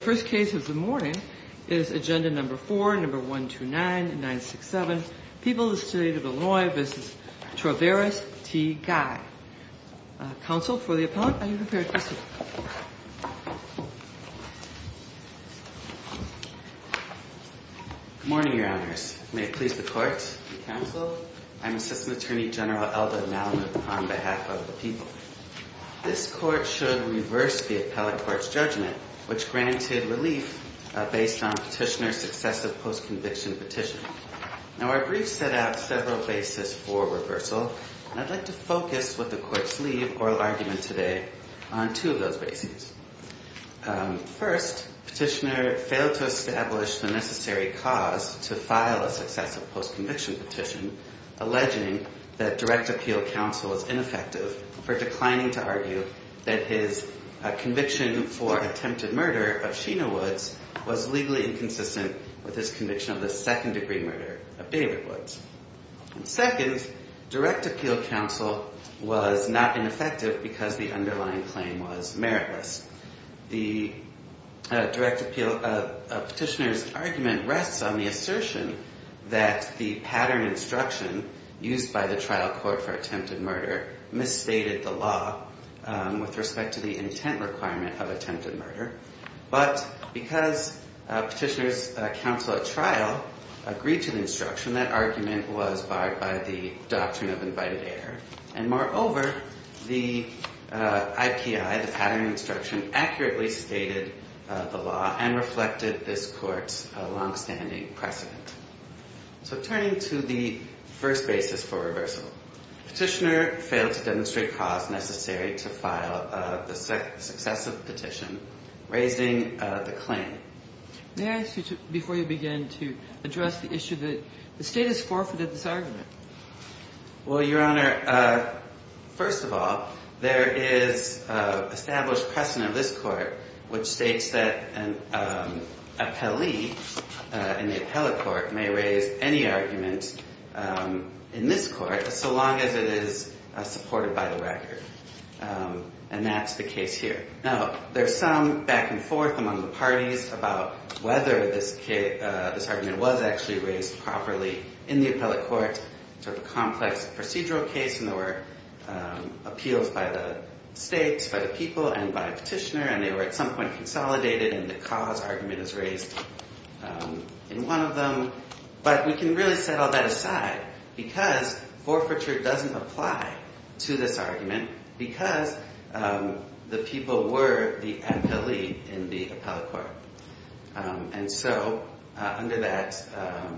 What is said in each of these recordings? First case of the morning is agenda number 4, number 129, 967, People of the State of Illinois v. Traveris T. Guy. Counsel, for the appellant, are you prepared to speak? Good morning, Your Honors. May it please the Court and Counsel, I'm Assistant Attorney General Elda Malamud on behalf of the people. This Court should reverse the appellate court's judgment, which granted relief based on Petitioner's successive post-conviction petition. Now, our brief set out several bases for reversal, and I'd like to focus what the Court's lead oral argument today on two of those bases. First, Petitioner failed to establish the necessary cause to file a successive post-conviction petition alleging that direct appeal counsel is ineffective for declining to argue that his conviction for attempted murder of Sheena Woods was legally inconsistent with his conviction of the second-degree murder of David Woods. Second, direct appeal counsel was not ineffective because the underlying claim was meritless. The direct appeal petitioner's argument rests on the assertion that the pattern instruction used by the trial court for attempted murder misstated the law with respect to the intent requirement of attempted murder. But because Petitioner's counsel at trial agreed to the instruction, that argument was barred by the doctrine of invited error. And moreover, the IPI, the pattern instruction, accurately stated the law and reflected this Court's longstanding precedent. So turning to the first basis for reversal, Petitioner failed to demonstrate cause necessary to file the successive petition raising the claim. May I ask you, before you begin, to address the issue that the State has forfeited this argument? Well, Your Honor, first of all, there is established precedent of this Court which states that an appellee in the appellate court may raise any argument in this Court so long as it is supported by the record. And that's the case here. Now, there's some back and forth among the parties about whether this argument was actually raised properly in the appellate court. It's a complex procedural case, and there were appeals by the States, by the people, and by Petitioner. And they were at some point consolidated, and the cause argument is raised in one of them. But we can really set all that aside because forfeiture doesn't apply to this argument because the people were the appellee in the appellate court. And so under that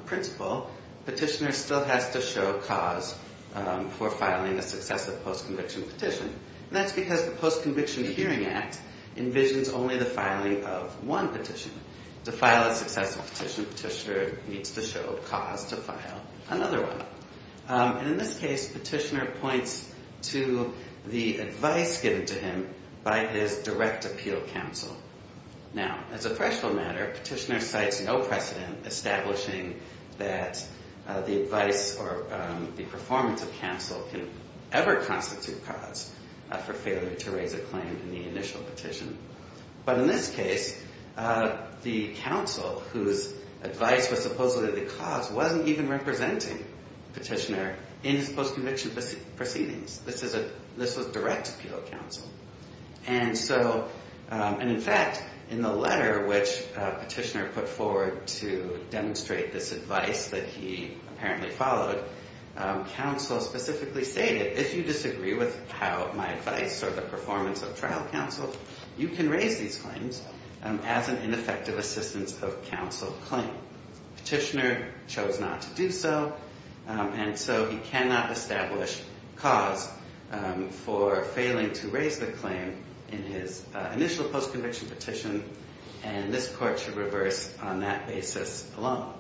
principle, Petitioner still has to show cause for filing a successive post-conviction petition. And that's because the Post-Conviction Hearing Act envisions only the filing of one petition. To file a successive petition, Petitioner needs to show cause to file another one. And in this case, Petitioner points to the advice given to him by his direct appeal counsel. Now, as a fractional matter, Petitioner cites no precedent establishing that the advice or the performance of counsel can ever constitute cause for failure to raise a claim in the initial petition. But in this case, the counsel whose advice was supposedly the cause wasn't even representing Petitioner in his post-conviction proceedings. This was direct appeal counsel. And so, and in fact, in the letter which Petitioner put forward to demonstrate this advice that he apparently followed, counsel specifically stated, if you disagree with how my advice or the performance of trial counsel, you can raise these claims as an ineffective assistance of counsel claim. Petitioner chose not to do so. And so he cannot establish cause for failing to raise the claim in his initial post-conviction petition. And this court should reverse on that basis alone.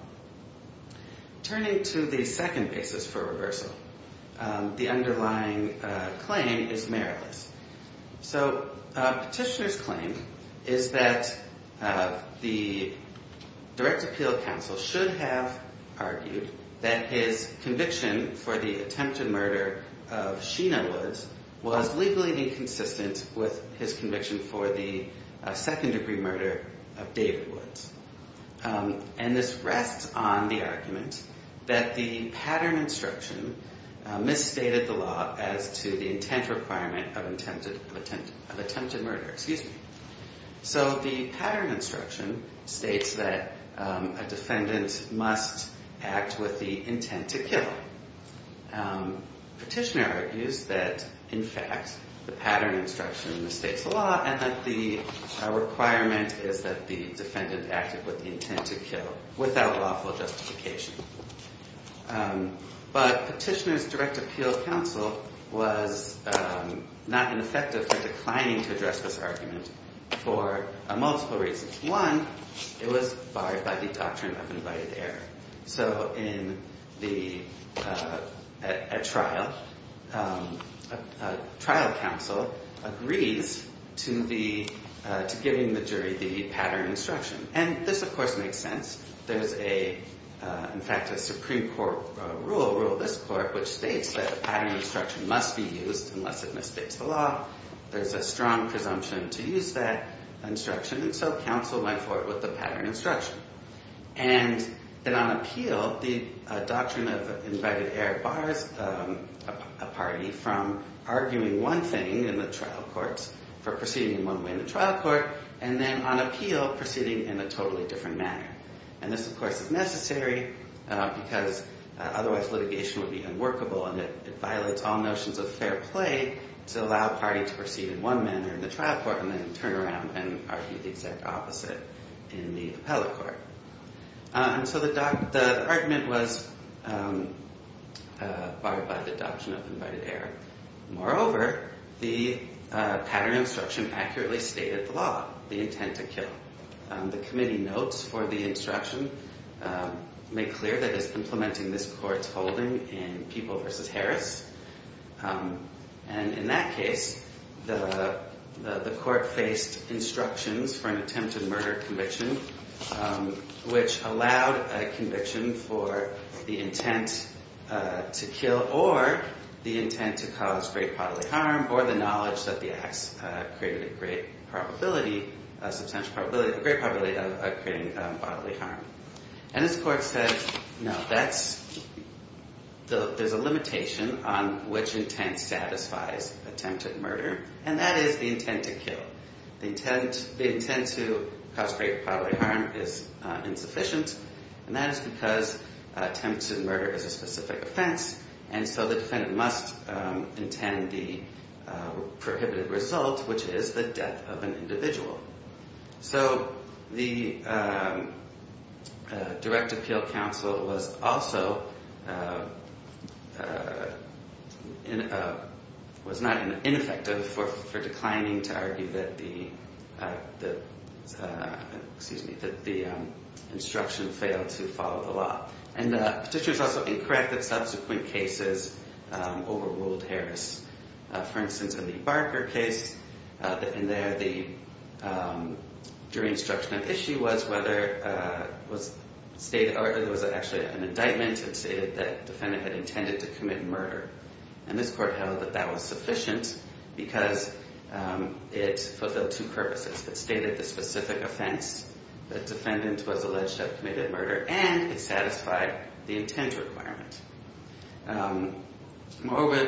Turning to the second basis for reversal, the underlying claim is meritless. So Petitioner's claim is that the direct appeal counsel should have argued that his conviction for the attempted murder of Sheena Woods was legally inconsistent with his conviction for the second degree murder of David Woods. And this rests on the argument that the pattern instruction misstated the law as to the intent requirement of attempted murder. Excuse me. So the pattern instruction states that a defendant must act with the intent to kill. Petitioner argues that, in fact, the pattern instruction mistakes the law and that the requirement is that the defendant acted with the intent to kill without lawful justification. But Petitioner's direct appeal counsel was not ineffective for declining to address this argument for multiple reasons. One, it was barred by the doctrine of invited error. So in a trial, a trial counsel agrees to giving the jury the pattern instruction. And this, of course, makes sense. There's, in fact, a Supreme Court rule, Rule of this Court, which states that a pattern instruction must be used unless it misstates the law. There's a strong presumption to use that instruction, and so counsel went for it with the pattern instruction. And then on appeal, the doctrine of invited error bars a party from arguing one thing in the trial courts for proceeding in one way in the trial court, and then on appeal proceeding in a totally different manner. And this, of course, is necessary because otherwise litigation would be unworkable, and it violates all notions of fair play to allow a party to proceed in one manner in the trial court and then turn around and argue the exact opposite in the appellate court. And so the argument was barred by the doctrine of invited error. Moreover, the pattern instruction accurately stated the law, the intent to kill. The committee notes for the instruction make clear that it's implementing this court's holding in People v. Harris. And in that case, the court faced instructions for an attempted murder conviction, which allowed a conviction for the intent to kill or the intent to cause great bodily harm or the knowledge that the acts created a great probability, a substantial probability, a great probability of creating bodily harm. And this court said, no, there's a limitation on which intent satisfies attempted murder, and that is the intent to kill. The intent to cause great bodily harm is insufficient, and that is because attempted murder is a specific offense, and so the defendant must intend the prohibited result, which is the death of an individual. So the direct appeal counsel was also, was not ineffective for declining to argue that the, excuse me, that the instruction failed to follow the law. And the petitioners also incorrect that subsequent cases overruled Harris. For instance, in the Barker case, in there, the jury instruction of issue was whether, was stated, or there was actually an indictment that stated that defendant had intended to commit murder. And this court held that that was sufficient because it fulfilled two purposes. It stated the specific offense, the defendant was alleged to have committed murder, and it satisfied the intent requirement.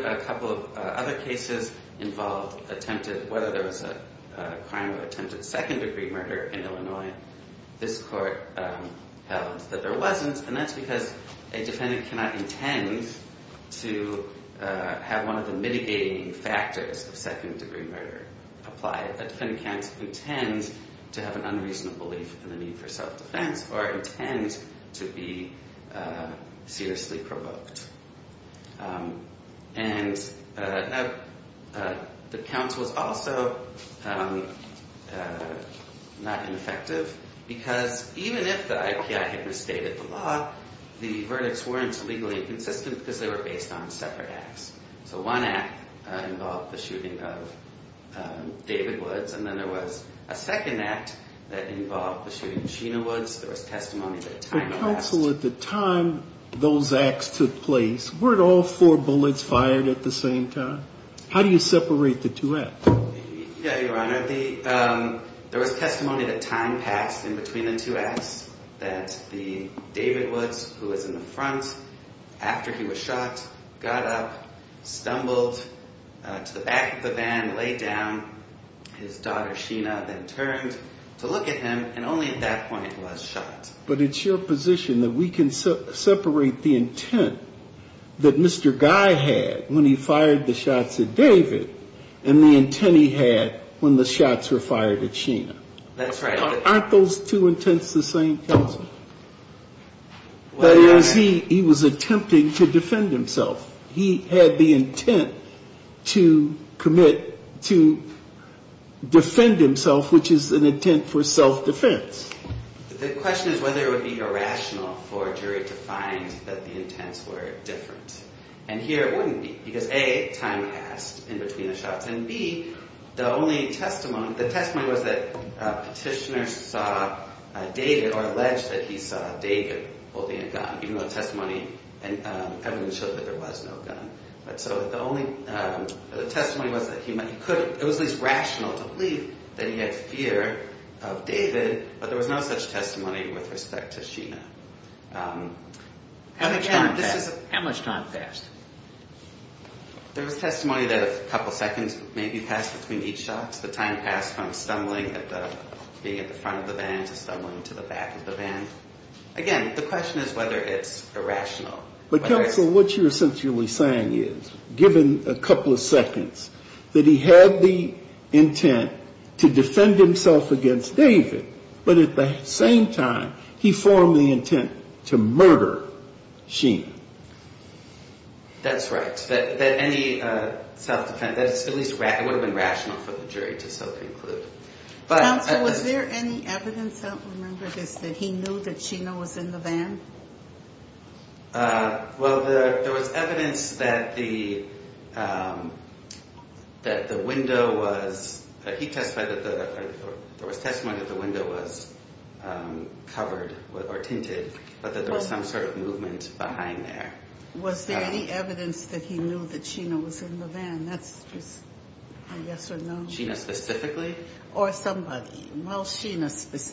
A couple of other cases involved attempted, whether there was a crime of attempted second-degree murder in Illinois. This court held that there wasn't, and that's because a defendant cannot intend to have one of the mitigating factors of second-degree murder applied. A defendant can't intend to have an unreasonable belief in the need for self-defense or intend to be seriously provoked. And the counsel was also not ineffective because even if the IPI had misstated the law, the verdicts weren't legally consistent because they were based on separate acts. So one act involved the shooting of David Woods, and then there was a second act that involved the shooting of Sheena Woods. There was testimony that time elapsed. But counsel, at the time those acts took place, weren't all four bullets fired at the same time? How do you separate the two acts? Yeah, Your Honor. There was testimony that time passed in between the two acts, that David Woods, who was in the front after he was shot, got up, stumbled to the back of the van, laid down. His daughter Sheena then turned to look at him, and only at that point was shot. But it's your position that we can separate the intent that Mr. Guy had when he fired the shots at David and the intent he had when the shots were fired at Sheena? That's right. Aren't those two intents the same, counsel? He was attempting to defend himself. He had the intent to commit to defend himself, which is an intent for self-defense. The question is whether it would be irrational for a jury to find that the intents were different. And here it wouldn't be, because A, time passed in between the shots, and B, the testimony was that a petitioner saw David or alleged that he saw David holding a gun, even though the testimony and evidence showed that there was no gun. The testimony was that it was at least rational to believe that he had fear of David, but there was no such testimony with respect to Sheena. How much time passed? There was testimony that a couple seconds maybe passed between each shot. The time passed from being at the front of the van to stumbling to the back of the van. Again, the question is whether it's irrational. But, counsel, what you're essentially saying is, given a couple of seconds, that he had the intent to defend himself against David, but at the same time, he formed the intent to murder Sheena. That's right. That any self-defense, at least it would have been rational for the jury to self-include. Counsel, was there any evidence, I don't remember this, that he knew that Sheena was in the van? Well, there was evidence that the window was, he testified that there was testimony that the window was covered or tinted, but that there was some sort of movement behind there. Was there any evidence that he knew that Sheena was in the van? That's just a yes or no. Sheena specifically? Or somebody. Well, Sheena,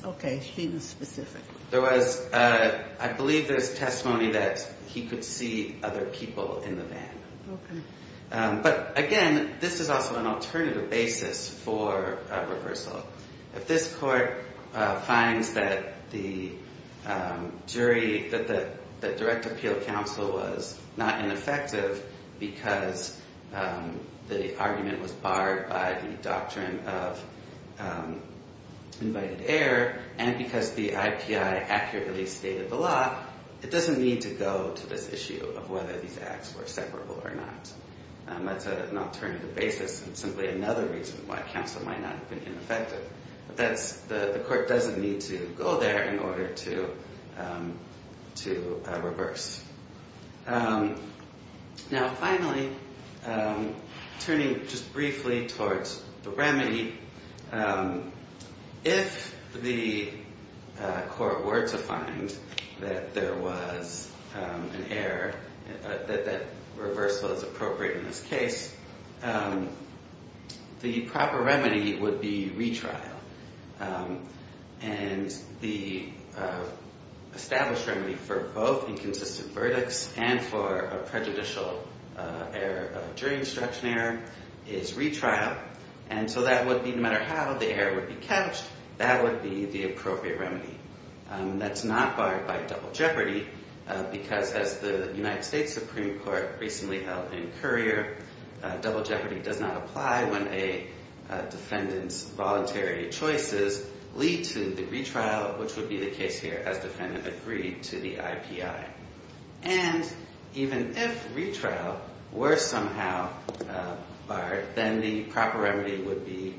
okay, Sheena specifically. There was, I believe there was testimony that he could see other people in the van. Okay. But, again, this is also an alternative basis for reversal. If this court finds that the jury, that the direct appeal counsel was not ineffective because the argument was barred by the doctrine of invited heir, and because the IPI accurately stated the law, it doesn't need to go to this issue of whether these acts were separable or not. That's an alternative basis and simply another reason why counsel might not have been ineffective. But that's, the court doesn't need to go there in order to reverse. Now, finally, turning just briefly towards the remedy, if the court were to find that there was an heir, that that reversal is appropriate in this case, the proper remedy would be retrial. And the established remedy for both inconsistent verdicts and for a prejudicial error, a jury instruction error, is retrial. And so that would be, no matter how the heir would be captured, that would be the appropriate remedy. That's not barred by double jeopardy because, as the United States Supreme Court recently held in Currier, double jeopardy does not apply when a defendant's voluntary choices lead to the retrial, which would be the case here as defendant agreed to the IPI. And even if retrial were somehow barred, then the proper remedy would be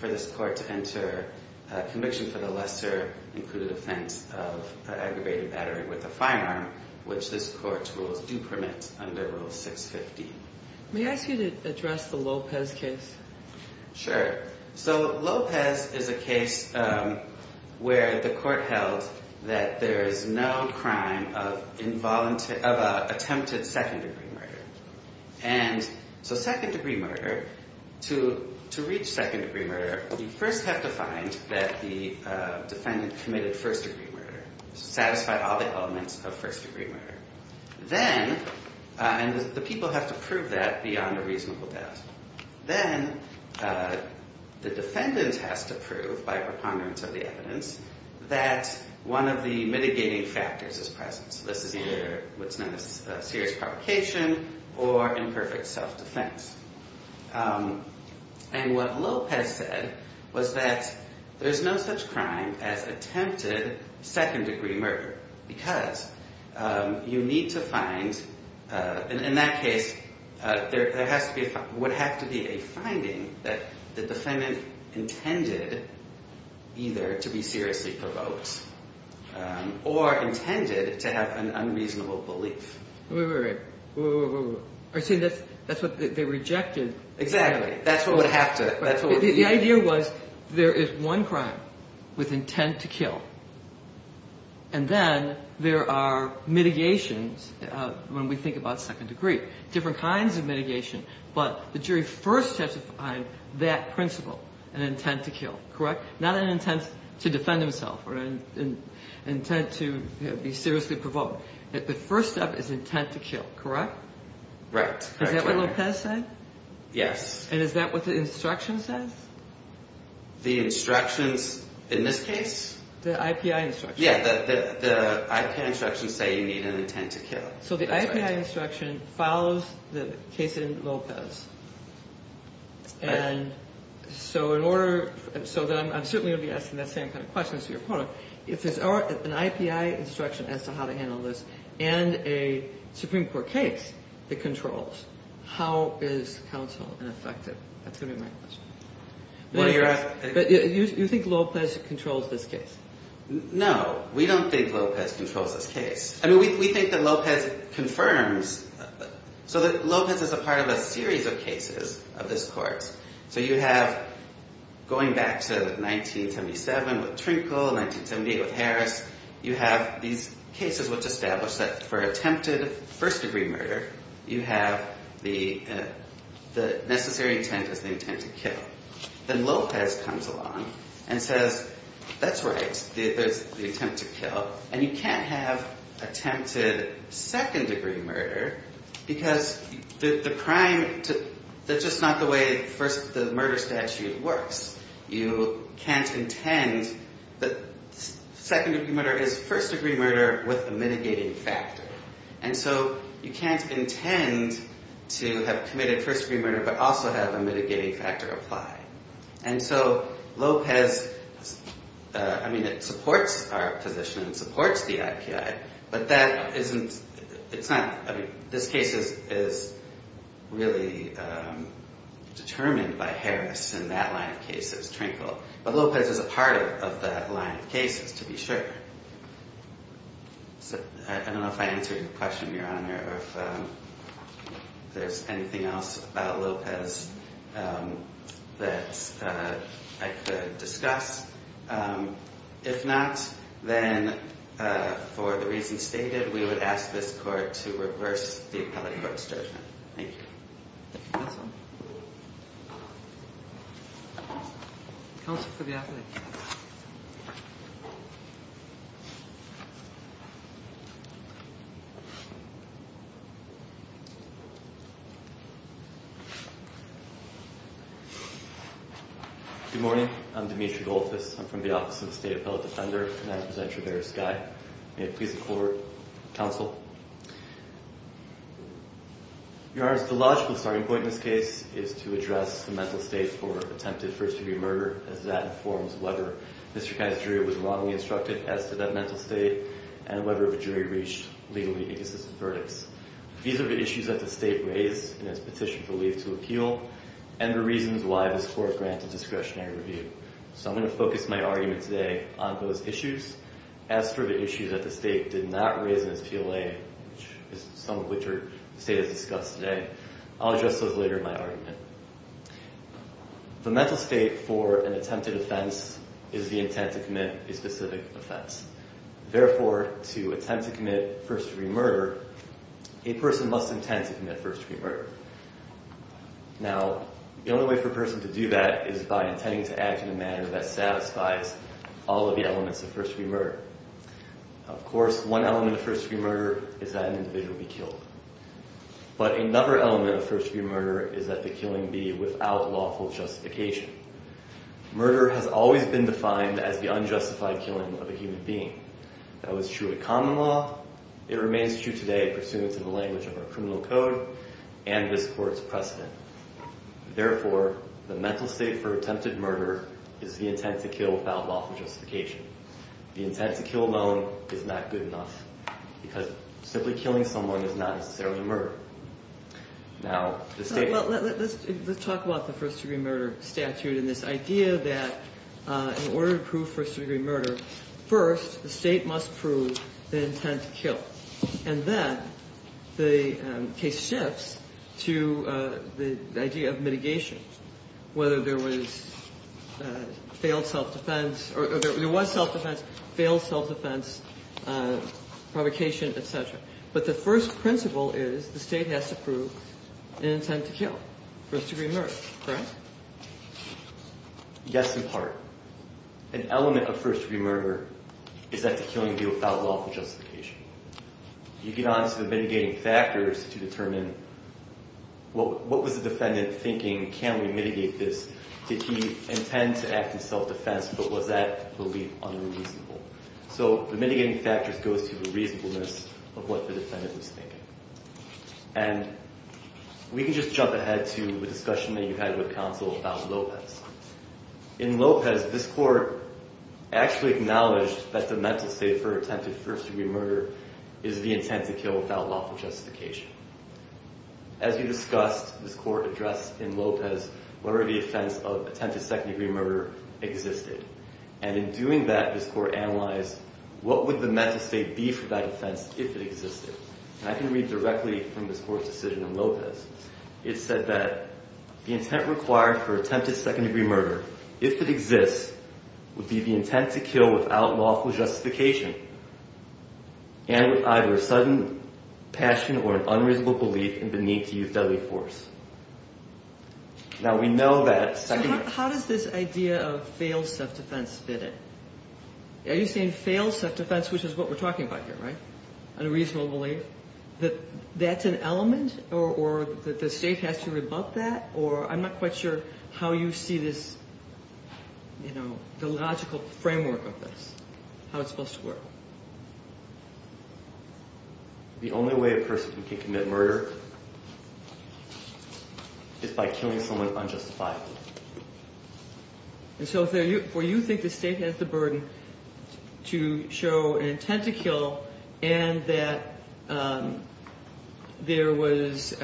for this court to enter a conviction for the lesser included offense of aggravated battery with a firearm, which this court's rules do permit under Rule 650. May I ask you to address the Lopez case? Sure. So Lopez is a case where the court held that there is no crime of attempted second-degree murder. And so second-degree murder, to reach second-degree murder, you first have to find that the defendant committed first-degree murder, satisfied all the elements of first-degree murder. Then, and the people have to prove that beyond a reasonable doubt. Then the defendant has to prove, by preponderance of the evidence, that one of the mitigating factors is present. This is either what's known as serious provocation or imperfect self-defense. And what Lopez said was that there's no such crime as attempted second-degree murder because you need to find, in that case, there would have to be a finding that the defendant intended either to be seriously provoked or intended to have an unreasonable belief. Wait, wait, wait. Are you saying that's what they rejected? Exactly. That's what would have to. The idea was there is one crime with intent to kill. And then there are mitigations when we think about second-degree, different kinds of mitigation. But the jury first has to find that principle, an intent to kill, correct? Not an intent to defend himself or an intent to be seriously provoked. The first step is intent to kill, correct? Right. Is that what Lopez said? Yes. And is that what the instruction says? The instructions in this case? The IPI instructions. Yeah, the IP instructions say you need an intent to kill. So the IPI instruction follows the case in Lopez. And so in order, so I'm certainly going to be asking that same kind of question to your opponent. If there's an IPI instruction as to how to handle this and a Supreme Court case that controls, how is counsel ineffective? That's going to be my question. But you think Lopez controls this case? No. We don't think Lopez controls this case. I mean, we think that Lopez confirms, so that Lopez is a part of a series of cases of this court. So you have, going back to 1977 with Trinkle, 1978 with Harris, you have these cases which establish that for attempted first-degree murder, you have the necessary intent is the intent to kill. Then Lopez comes along and says, that's right, there's the attempt to kill. And you can't have attempted second-degree murder because the crime, that's just not the way the murder statute works. You can't intend that second-degree murder is first-degree murder with a mitigating factor. And so you can't intend to have committed first-degree murder but also have a mitigating factor apply. And so Lopez, I mean, it supports our position, it supports the IPI, but that isn't, it's not, I mean, this case is really determined by Harris in that line of cases, Trinkle. But Lopez is a part of that line of cases, to be sure. I don't know if I answered your question, Your Honor, or if there's anything else about Lopez that I could discuss. If not, then for the reasons stated, we would ask this court to reverse the appellate court's judgment. Thank you. Counsel. Counsel for the appellate. Good morning. I'm Dimitri Lopez. I'm from the Office of the State Appellate Defender, and I present your various guide. May it please the floor, counsel. Your Honor, the logical starting point in this case is to address the mental state for attempted first-degree murder, as that informs whether Mr. Kai's jury was wrongly instructed as to that mental state and whether the jury reached legally inconsistent verdicts. These are the issues that the state raised in its petition for leave to appeal and the reasons why this court granted discretionary review. So I'm going to focus my argument today on those issues. As for the issues that the state did not raise in its PLA, some of which the state has discussed today, I'll address those later in my argument. The mental state for an attempted offense is the intent to commit a specific offense. Therefore, to attempt to commit first-degree murder, a person must intend to commit first-degree murder. Now, the only way for a person to do that is by intending to act in a manner that satisfies all of the elements of first-degree murder. Of course, one element of first-degree murder is that an individual be killed. But another element of first-degree murder is that the killing be without lawful justification. Murder has always been defined as the unjustified killing of a human being. That was true at common law. It remains true today pursuant to the language of our criminal code and this court's precedent. Therefore, the mental state for attempted murder is the intent to kill without lawful justification. The intent to kill alone is not good enough because simply killing someone is not necessarily murder. Now, the state- Well, let's talk about the first-degree murder statute and this idea that in order to prove first-degree murder, first the state must prove the intent to kill. And then the case shifts to the idea of mitigation, whether there was failed self-defense or there was self-defense, failed self-defense, provocation, et cetera. But the first principle is the state has to prove an intent to kill, first-degree murder, correct? Yes, in part. An element of first-degree murder is that the killing be without lawful justification. You get on to the mitigating factors to determine what was the defendant thinking? Can we mitigate this? Did he intend to act in self-defense, but was that belief unreasonable? So the mitigating factors goes to the reasonableness of what the defendant was thinking. And we can just jump ahead to the discussion that you had with counsel about Lopez. In Lopez, this court actually acknowledged that the mental state for attempted first-degree murder is the intent to kill without lawful justification. As you discussed, this court addressed in Lopez where the offense of attempted second-degree murder existed. And in doing that, this court analyzed what would the mental state be for that offense if it existed. And I can read directly from this court's decision in Lopez. It said that the intent required for attempted second-degree murder, if it exists, would be the intent to kill without lawful justification and with either a sudden passion or an unreasonable belief in the need to use deadly force. Now, we know that second-degree... So how does this idea of failed self-defense fit in? Are you saying failed self-defense, which is what we're talking about here, right? Unreasonable belief? That that's an element or that the state has to rebut that? Or I'm not quite sure how you see this, you know, the logical framework of this, how it's supposed to work. The only way a person can commit murder is by killing someone unjustifiably. And so for you to think the state has the burden to show an intent to kill and that there was...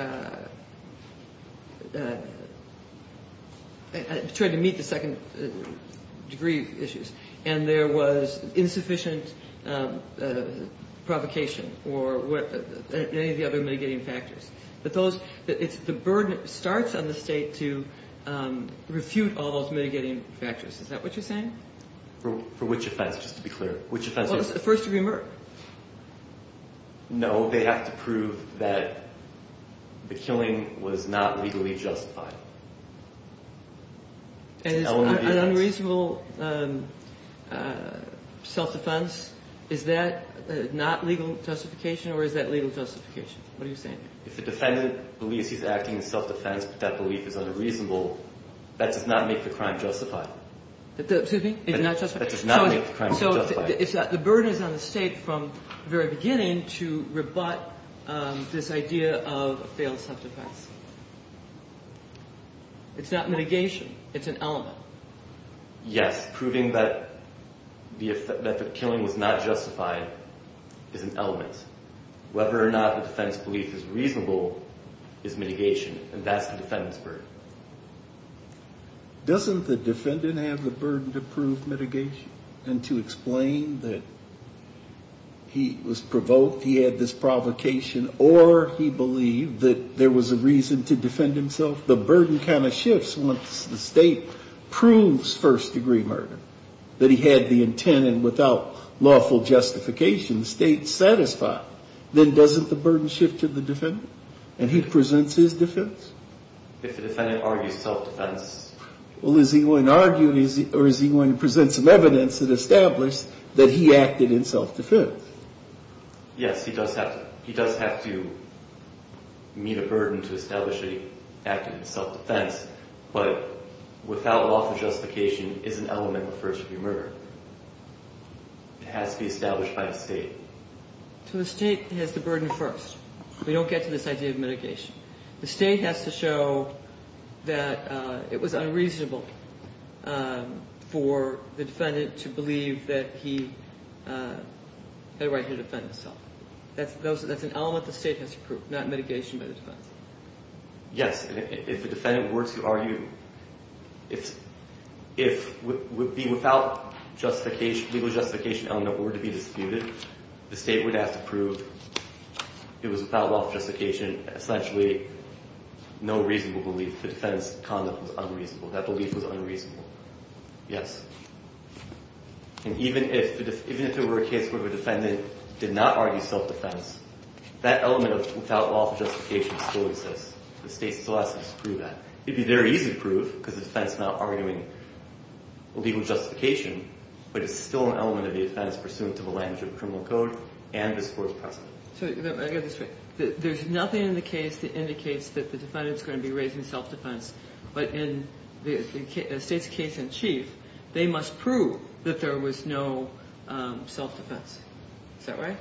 I'm trying to meet the second-degree issues. And there was insufficient provocation or any of the other mitigating factors. The burden starts on the state to refute all those mitigating factors. Is that what you're saying? For which offense, just to be clear? First-degree murder. No, they have to prove that the killing was not legally justified. An unreasonable self-defense, is that not legal justification or is that legal justification? What are you saying? If the defendant believes he's acting in self-defense but that belief is unreasonable, that does not make the crime justified. Excuse me? It's not justified? That does not make the crime justified. So the burden is on the state from the very beginning to rebut this idea of a failed self-defense. It's not mitigation. It's an element. Yes, proving that the killing was not justified is an element. Whether or not the defendant's belief is reasonable is mitigation, and that's the defendant's burden. Doesn't the defendant have the burden to prove mitigation and to explain that he was provoked, he had this provocation, or he believed that there was a reason to defend himself? The burden kind of shifts once the state proves first-degree murder, that he had the intent and without lawful justification, the state's satisfied. Then doesn't the burden shift to the defendant and he presents his defense? If the defendant argues self-defense. Well, is he going to argue or is he going to present some evidence that established that he acted in self-defense? Yes, he does have to meet a burden to establish that he acted in self-defense, but without lawful justification is an element of first-degree murder. It has to be established by the state. So the state has the burden first. We don't get to this idea of mitigation. The state has to show that it was unreasonable for the defendant to believe that he had a right to defend himself. That's an element the state has to prove, not mitigation by the defense. Yes, and if the defendant were to argue, if it would be without legal justification element were to be disputed, the state would have to prove it was without lawful justification. Essentially, no reasonable belief. The defendant's conduct was unreasonable. That belief was unreasonable. Yes, and even if it were a case where the defendant did not argue self-defense, that element of without lawful justification still exists. The state still has to disprove that. It would be very easy to prove because the defense is not arguing legal justification, but it's still an element of the offense pursuant to the language of the criminal code and this court's precedent. So I get this right. There's nothing in the case that indicates that the defendant's going to be raising self-defense, but in the state's case in chief, they must prove that there was no self-defense. Is that right?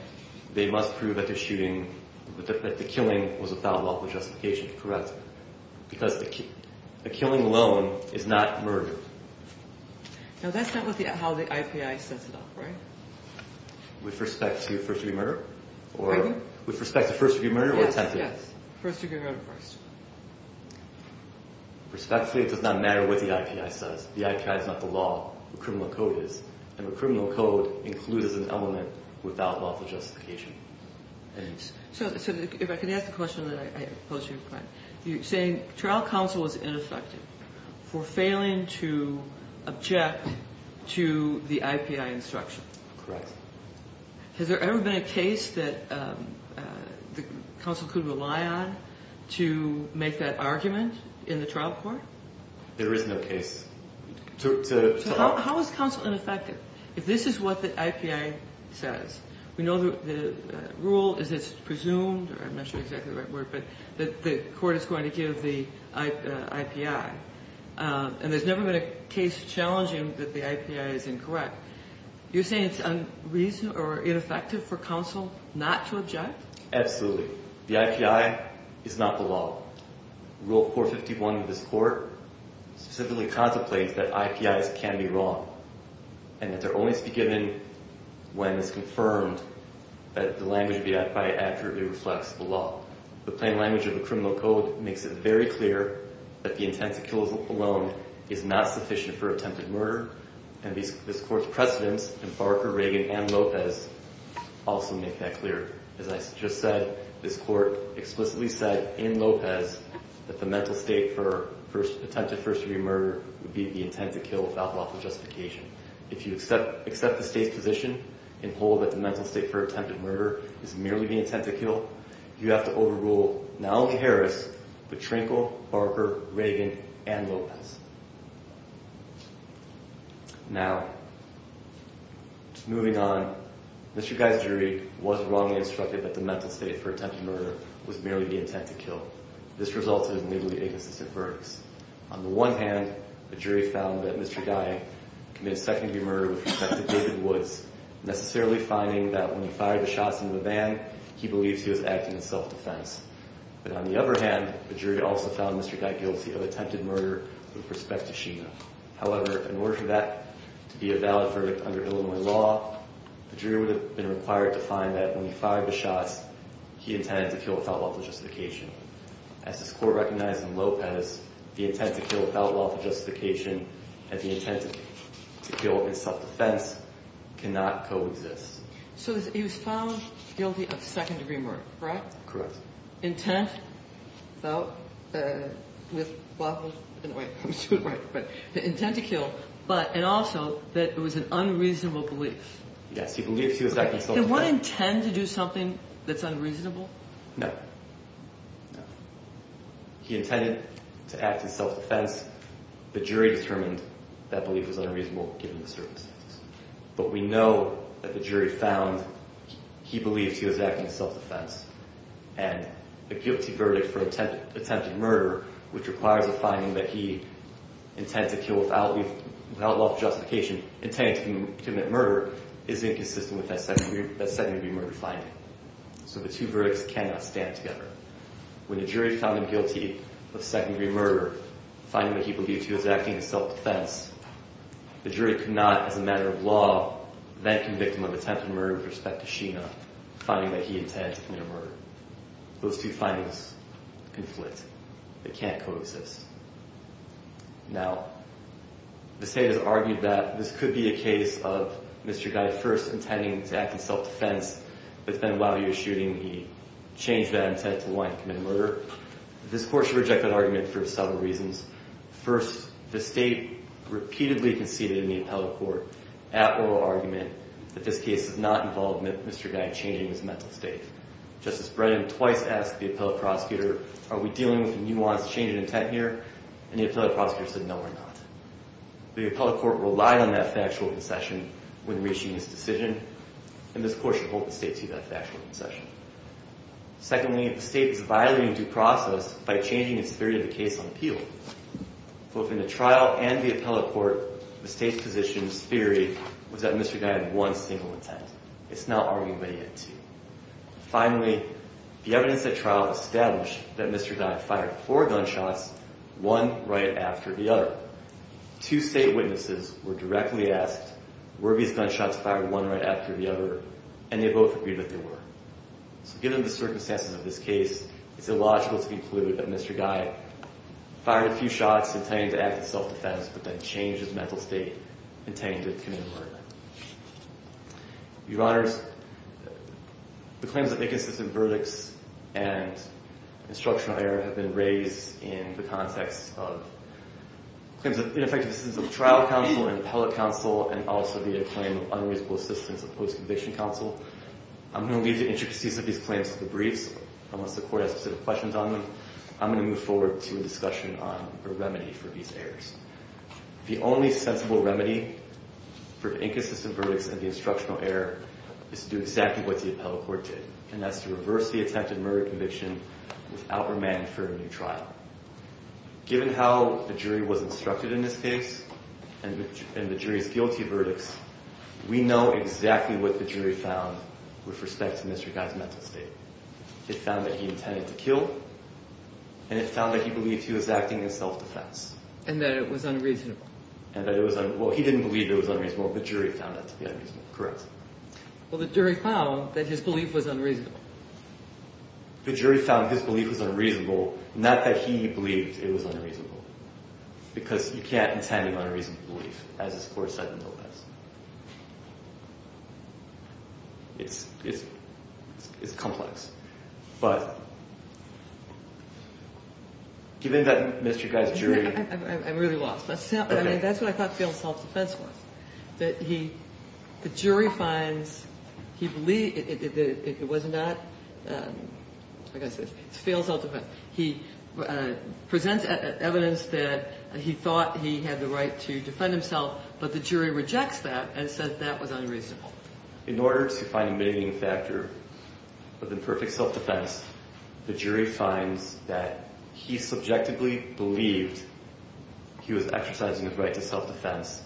They must prove that the shooting, that the killing was without lawful justification. Because the killing alone is not murder. Now, that's not how the IPI sets it up, right? With respect to first-degree murder? Pardon? With respect to first-degree murder or attempted? Yes, yes, first-degree murder first. Respectfully, it does not matter what the IPI says. The IPI is not the law. The criminal code is. And the criminal code includes an element without lawful justification. So if I could ask the question that I posed to you before. You're saying trial counsel is ineffective for failing to object to the IPI instruction. Has there ever been a case that the counsel could rely on to make that argument in the trial court? There is no case. So how is counsel ineffective if this is what the IPI says? We know the rule is it's presumed, or I'm not sure exactly the right word, but that the court is going to give the IPI. And there's never been a case challenging that the IPI is incorrect. You're saying it's unreasonable or ineffective for counsel not to object? Absolutely. The IPI is not the law. Rule 451 of this court specifically contemplates that IPIs can be wrong. And that they're only to be given when it's confirmed that the language of the IPI accurately reflects the law. The plain language of the criminal code makes it very clear that the intent to kill alone is not sufficient for attempted murder. And this court's precedents in Barker, Reagan, and Lopez also make that clear. As I just said, this court explicitly said in Lopez that the mental state for attempted first-degree murder would be the intent to kill without lawful justification. If you accept the state's position and hold that the mental state for attempted murder is merely the intent to kill, you have to overrule not only Harris, but Trinkle, Barker, Reagan, and Lopez. Now, just moving on, Mr. Guy's jury was wrongly instructed that the mental state for attempted murder was merely the intent to kill. This resulted in legally inconsistent verdicts. On the one hand, the jury found that Mr. Guy committed second-degree murder with respect to David Woods, necessarily finding that when he fired the shots in the van, he believes he was acting in self-defense. But on the other hand, the jury also found Mr. Guy guilty of attempted murder with respect to Sheena. However, in order for that to be a valid verdict under Illinois law, the jury would have been required to find that when he fired the shots, he intended to kill without lawful justification. As this court recognized in Lopez, the intent to kill without lawful justification and the intent to kill in self-defense cannot coexist. So he was found guilty of second-degree murder, correct? Intent? Without, with, lawful, I'm sorry, right, but the intent to kill, but, and also that it was an unreasonable belief. Yes, he believes he was acting in self-defense. Did one intend to do something that's unreasonable? No. No. He intended to act in self-defense. The jury determined that belief was unreasonable, given the circumstances. But we know that the jury found he believes he was acting in self-defense, and a guilty verdict for attempted murder, which requires a finding that he intended to kill without lawful justification, intended to commit murder, is inconsistent with that second-degree murder finding. So the two verdicts cannot stand together. When the jury found him guilty of second-degree murder, finding that he believed he was acting in self-defense, the jury could not, as a matter of law, then convict him of attempted murder with respect to Sheena, finding that he intended to commit a murder. Those two findings conflict. They can't coexist. Now, the state has argued that this could be a case of Mr. Guy first intending to act in self-defense, but then, while he was shooting, he changed that intent to want to commit murder. This court should reject that argument for several reasons. First, the state repeatedly conceded in the appellate court, at oral argument, that this case did not involve Mr. Guy changing his mental state. Justice Brennan twice asked the appellate prosecutor, are we dealing with a nuanced change in intent here? And the appellate prosecutor said, no, we're not. The appellate court relied on that factual concession when reaching this decision, and this court should hold the state to that factual concession. Secondly, the state is violating due process by changing its theory of the case on appeal. Both in the trial and the appellate court, the state's position's theory was that Mr. Guy had one single intent. It's not arguing that he had two. Finally, the evidence at trial established that Mr. Guy fired four gunshots, one right after the other. However, two state witnesses were directly asked, were these gunshots fired one right after the other, and they both agreed that they were. So given the circumstances of this case, it's illogical to conclude that Mr. Guy fired a few shots intending to act in self-defense but then changed his mental state intending to commit murder. Your Honors, the claims of inconsistent verdicts and instructional error have been raised in the context of claims of ineffective assistance of trial counsel and appellate counsel, and also via a claim of unreasonable assistance of post-conviction counsel. I'm going to leave the intricacies of these claims to the briefs. Unless the court has specific questions on them, I'm going to move forward to a discussion on a remedy for these errors. The only sensible remedy for inconsistent verdicts and the instructional error is to do exactly what the appellate court did, and that's to reverse the attempted murder conviction without remand for a new trial. Given how the jury was instructed in this case and the jury's guilty verdicts, we know exactly what the jury found with respect to Mr. Guy's mental state. It found that he intended to kill, and it found that he believed he was acting in self-defense. And that it was unreasonable. Well, he didn't believe it was unreasonable, but the jury found it to be unreasonable. Correct. Well, the jury found that his belief was unreasonable. The jury found his belief was unreasonable, not that he believed it was unreasonable, because you can't intend an unreasonable belief, as this Court said, no less. It's complex. But given that Mr. Guy's jury... I'm really lost. I mean, that's what I thought failed self-defense was, that the jury finds he believed it was not, like I said, failed self-defense. He presents evidence that he thought he had the right to defend himself, but the jury rejects that and says that was unreasonable. In order to find a mitigating factor of imperfect self-defense, the jury finds that he subjectively believed he was exercising his right to self-defense.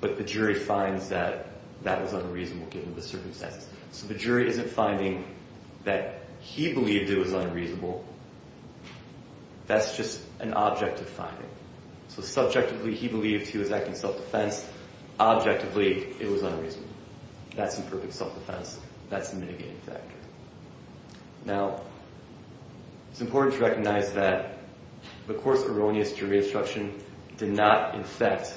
But the jury finds that that was unreasonable, given the circumstances. So the jury isn't finding that he believed it was unreasonable. That's just an objective finding. So subjectively, he believed he was acting in self-defense. Objectively, it was unreasonable. That's imperfect self-defense. That's a mitigating factor. Now, it's important to recognize that the Court's erroneous jury instruction did not infect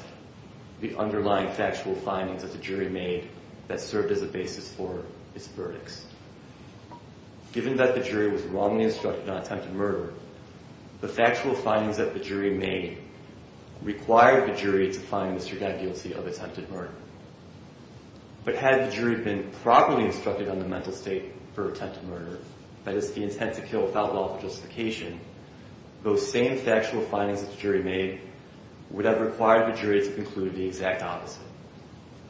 the underlying factual findings that the jury made that served as a basis for its verdicts. Given that the jury was wrongly instructed on attempted murder, the factual findings that the jury made required the jury to find the serendipity of attempted murder. But had the jury been properly instructed on the mental state for attempted murder, that is, the intent to kill without lawful justification, those same factual findings that the jury made would have required the jury to conclude the exact opposite,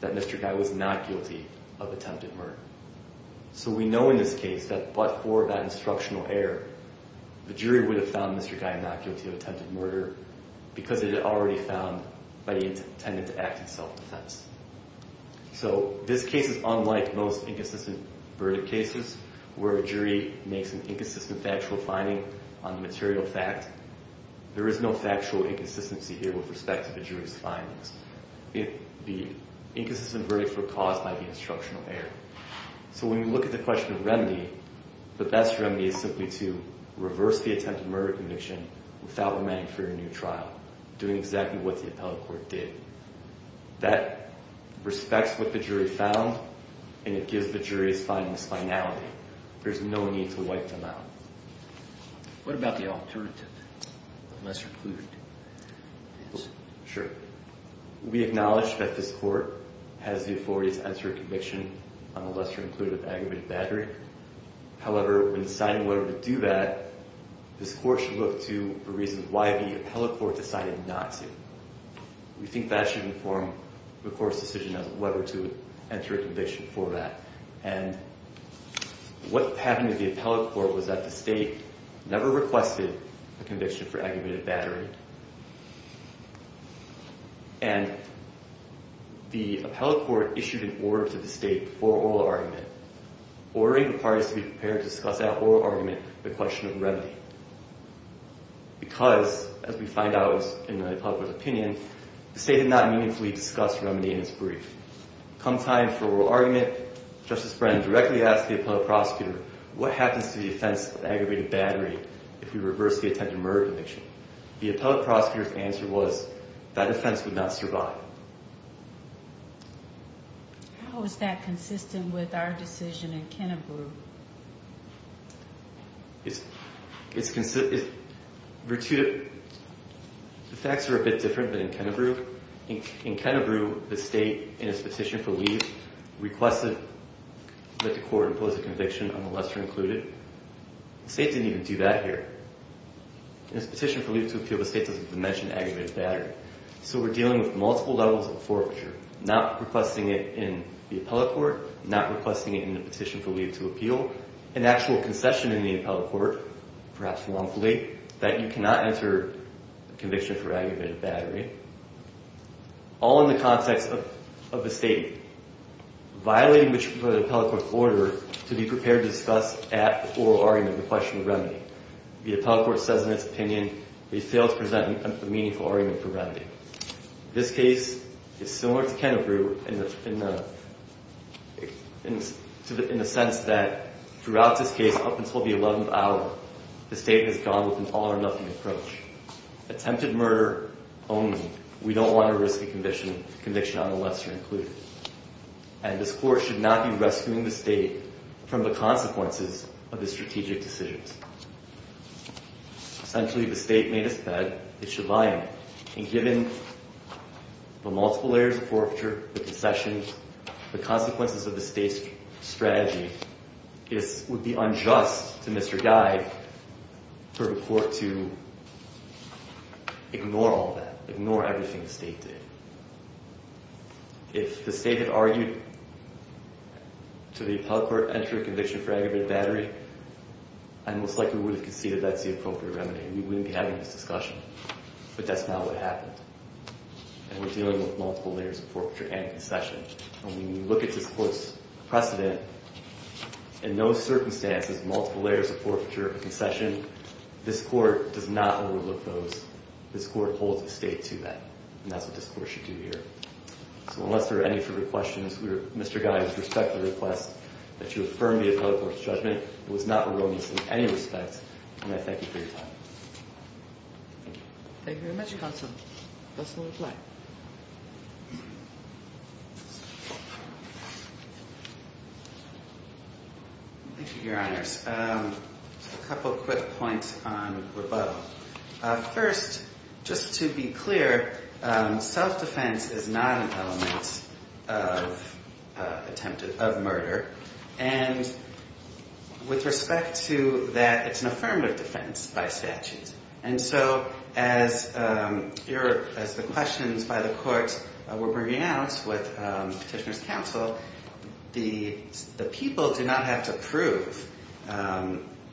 that Mr. Guy was not guilty of attempted murder. So we know in this case that but for that instructional error, the jury would have found Mr. Guy not guilty of attempted murder because it had already been found by the intent to act in self-defense. So this case is unlike most inconsistent verdict cases where a jury makes an inconsistent factual finding on the material fact. There is no factual inconsistency here with respect to the jury's findings. The inconsistent verdict were caused by the instructional error. So when you look at the question of remedy, the best remedy is simply to reverse the attempted murder conviction without remanding for a new trial, doing exactly what the appellate court did. That respects what the jury found, and it gives the jury's findings finality. There's no need to wipe them out. What about the alternative, lesser-included? Sure. We acknowledge that this court has the authority to answer a conviction on a lesser-included aggravated battery. However, when deciding whether to do that, this court should look to the reasons why the appellate court decided not to. We think that should inform the court's decision as to whether to enter a conviction for that. And what happened to the appellate court was that the state never requested a conviction for aggravated battery. And the appellate court issued an order to the state for oral argument, ordering the parties to be prepared to discuss that oral argument, the question of remedy, because, as we find out in the appellate court's opinion, the state did not meaningfully discuss remedy in its brief. Come time for oral argument, Justice Brennan directly asked the appellate prosecutor, what happens to the offense of aggravated battery if we reverse the attempted murder conviction? The appellate prosecutor's answer was that offense would not survive. How is that consistent with our decision in Kennebrew? The facts are a bit different than in Kennebrew. In Kennebrew, the state, in its petition for leave, requested that the court impose a conviction on the lesser-included. The state didn't even do that here. In its petition for leave to appeal, the state doesn't mention aggravated battery. So we're dealing with multiple levels of forfeiture, not requesting it in the appellate court, not requesting it in the petition for leave to appeal, an actual concession in the appellate court, perhaps wrongfully, that you cannot enter a conviction for aggravated battery, all in the context of the state violating the appellate court's order to be prepared to discuss that oral argument, the question of remedy. The appellate court says in its opinion we failed to present a meaningful argument for remedy. This case is similar to Kennebrew in the sense that throughout this case up until the 11th hour, the state has gone with an all-or-nothing approach, attempted murder only. We don't want to risk a conviction on the lesser-included. And this court should not be rescuing the state from the consequences of the strategic decisions. Essentially, the state made us bed, it should lie in. And given the multiple layers of forfeiture, the concessions, the consequences of the state's strategy, it would be unjust to Mr. Guy for the court to ignore all that, ignore everything the state did. If the state had argued to the appellate court, enter a conviction for aggravated battery, I most likely would have conceded that's the appropriate remedy. We wouldn't be having this discussion. But that's not what happened. And we're dealing with multiple layers of forfeiture and concession. And when you look at this court's precedent, in those circumstances, multiple layers of forfeiture and concession, this court does not overlook those. This court holds the state to that. And that's what this court should do here. So unless there are any further questions, Mr. Guy, I respectfully request that you affirm the appellate court's judgment. It was not erroneous in any respect. And I thank you for your time. Thank you very much, counsel. That's the reply. Thank you, Your Honors. A couple quick points on rebuttal. First, just to be clear, self-defense is not an element of murder. And with respect to that, it's an affirmative defense by statute. And so as the questions by the court were bringing out with Petitioner's counsel, the people do not have to prove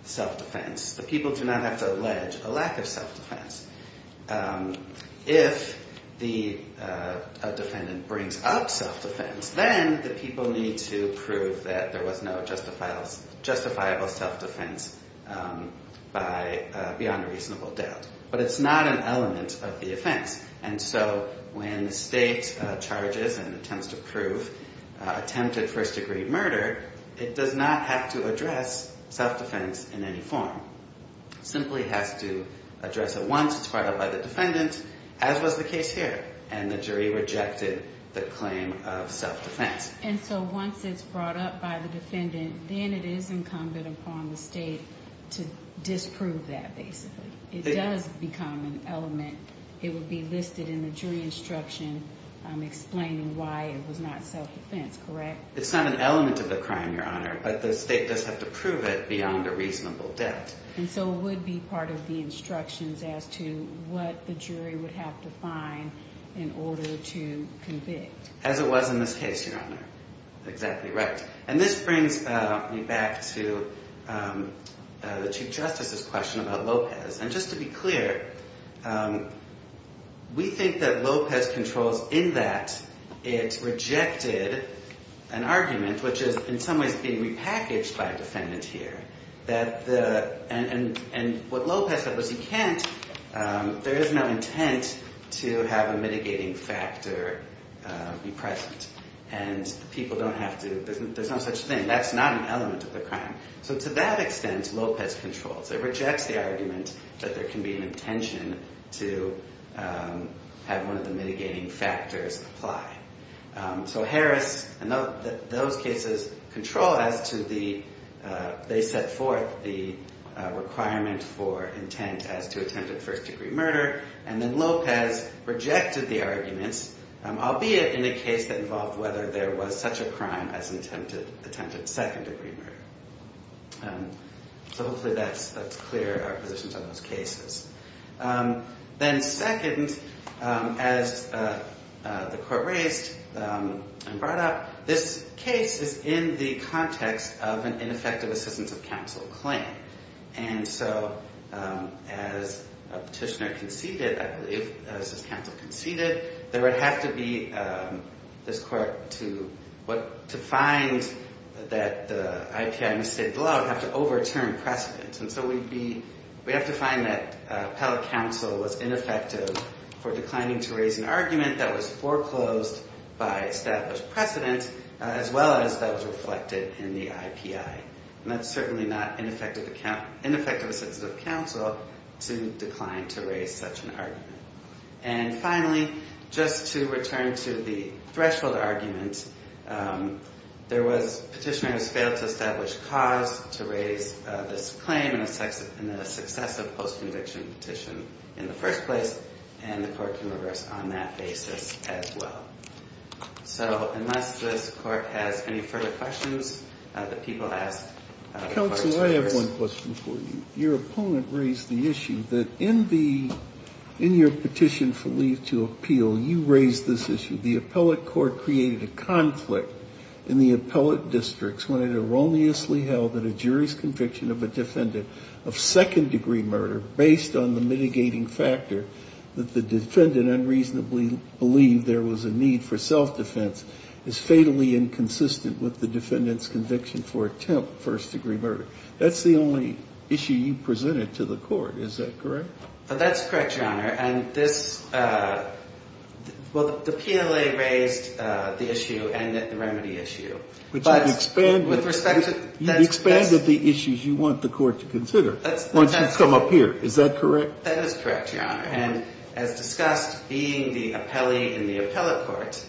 self-defense. The people do not have to allege a lack of self-defense. If a defendant brings up self-defense, then the people need to prove that there was no justifiable self-defense beyond a reasonable doubt. But it's not an element of the offense. And so when the state charges and attempts to prove attempted first-degree murder, it does not have to address self-defense in any form. It simply has to address it once. It's brought up by the defendant, as was the case here. And the jury rejected the claim of self-defense. And so once it's brought up by the defendant, then it is incumbent upon the state to disprove that, basically. It does become an element. It would be listed in the jury instruction explaining why it was not self-defense, correct? It's not an element of the crime, Your Honor. But the state does have to prove it beyond a reasonable doubt. And so it would be part of the instructions as to what the jury would have to find in order to convict. As it was in this case, Your Honor. Exactly right. And this brings me back to the Chief Justice's question about Lopez. And just to be clear, we think that Lopez controls in that it rejected an argument, which is in some ways being repackaged by a defendant here. And what Lopez said was he can't. There is no intent to have a mitigating factor be present. And people don't have to. There's no such thing. That's not an element of the crime. So to that extent, Lopez controls. It rejects the argument that there can be an intention to have one of the mitigating factors apply. So Harris and those cases control as to the—they set forth the requirement for intent as to attempted first degree murder. And then Lopez rejected the arguments, albeit in a case that involved whether there was such a crime as an attempted second degree murder. So hopefully that's clear, our positions on those cases. Then second, as the Court raised and brought up, this case is in the context of an ineffective assistance of counsel claim. And so as a petitioner conceded, I believe, as this counsel conceded, there would have to be—this Court, to find that the IPI misstated the law, would have to overturn precedence. And so we'd be—we'd have to find that appellate counsel was ineffective for declining to raise an argument that was foreclosed by established precedence, as well as that was reflected in the IPI. And that's certainly not ineffective assistance of counsel to decline to raise such an argument. And finally, just to return to the threshold argument, there was—petitioners failed to establish cause to raise this claim in a successive post-conviction petition in the first place. And the Court can reverse on that basis as well. So unless this Court has any further questions that people have— Counsel, I have one question for you. Your opponent raised the issue that in the—in your petition for leave to appeal, you raised this issue. The appellate court created a conflict in the appellate districts when it erroneously held that a jury's conviction of a defendant of second-degree murder, based on the mitigating factor that the defendant unreasonably believed there was a need for self-defense, is fatally inconsistent with the defendant's conviction for attempt first-degree murder. That's the only issue you presented to the Court. Is that correct? That's correct, Your Honor. And this—well, the PLA raised the issue and the remedy issue, but— But you've expanded— With respect to— You've expanded the issues you want the Court to consider once you come up here. Is that correct? That is correct, Your Honor. And as discussed, being the appellee in the appellate court,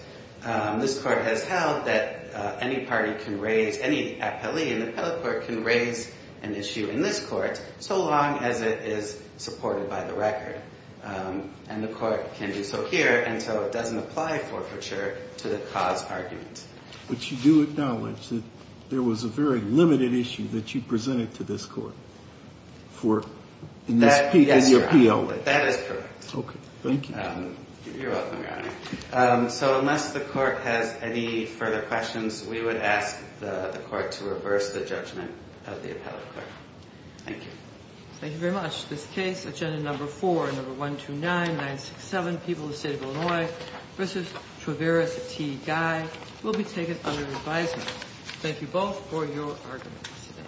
this Court has held that any party can raise—any appellee in the appellate court can raise an issue in this Court, so long as it is supported by the record. And the Court can do so here until it doesn't apply forfeiture to the cause argument. But you do acknowledge that there was a very limited issue that you presented to this Court for—in this— Yes, Your Honor. That is correct. Okay. Thank you. You're welcome, Your Honor. So unless the Court has any further questions, we would ask the Court to reverse the judgment of the appellate court. Thank you. Thank you very much. This case, Agenda Number 4, Number 129-967, People of the State of Illinois v. Traveris T. Guy, will be taken under advisement. Thank you both for your arguments today.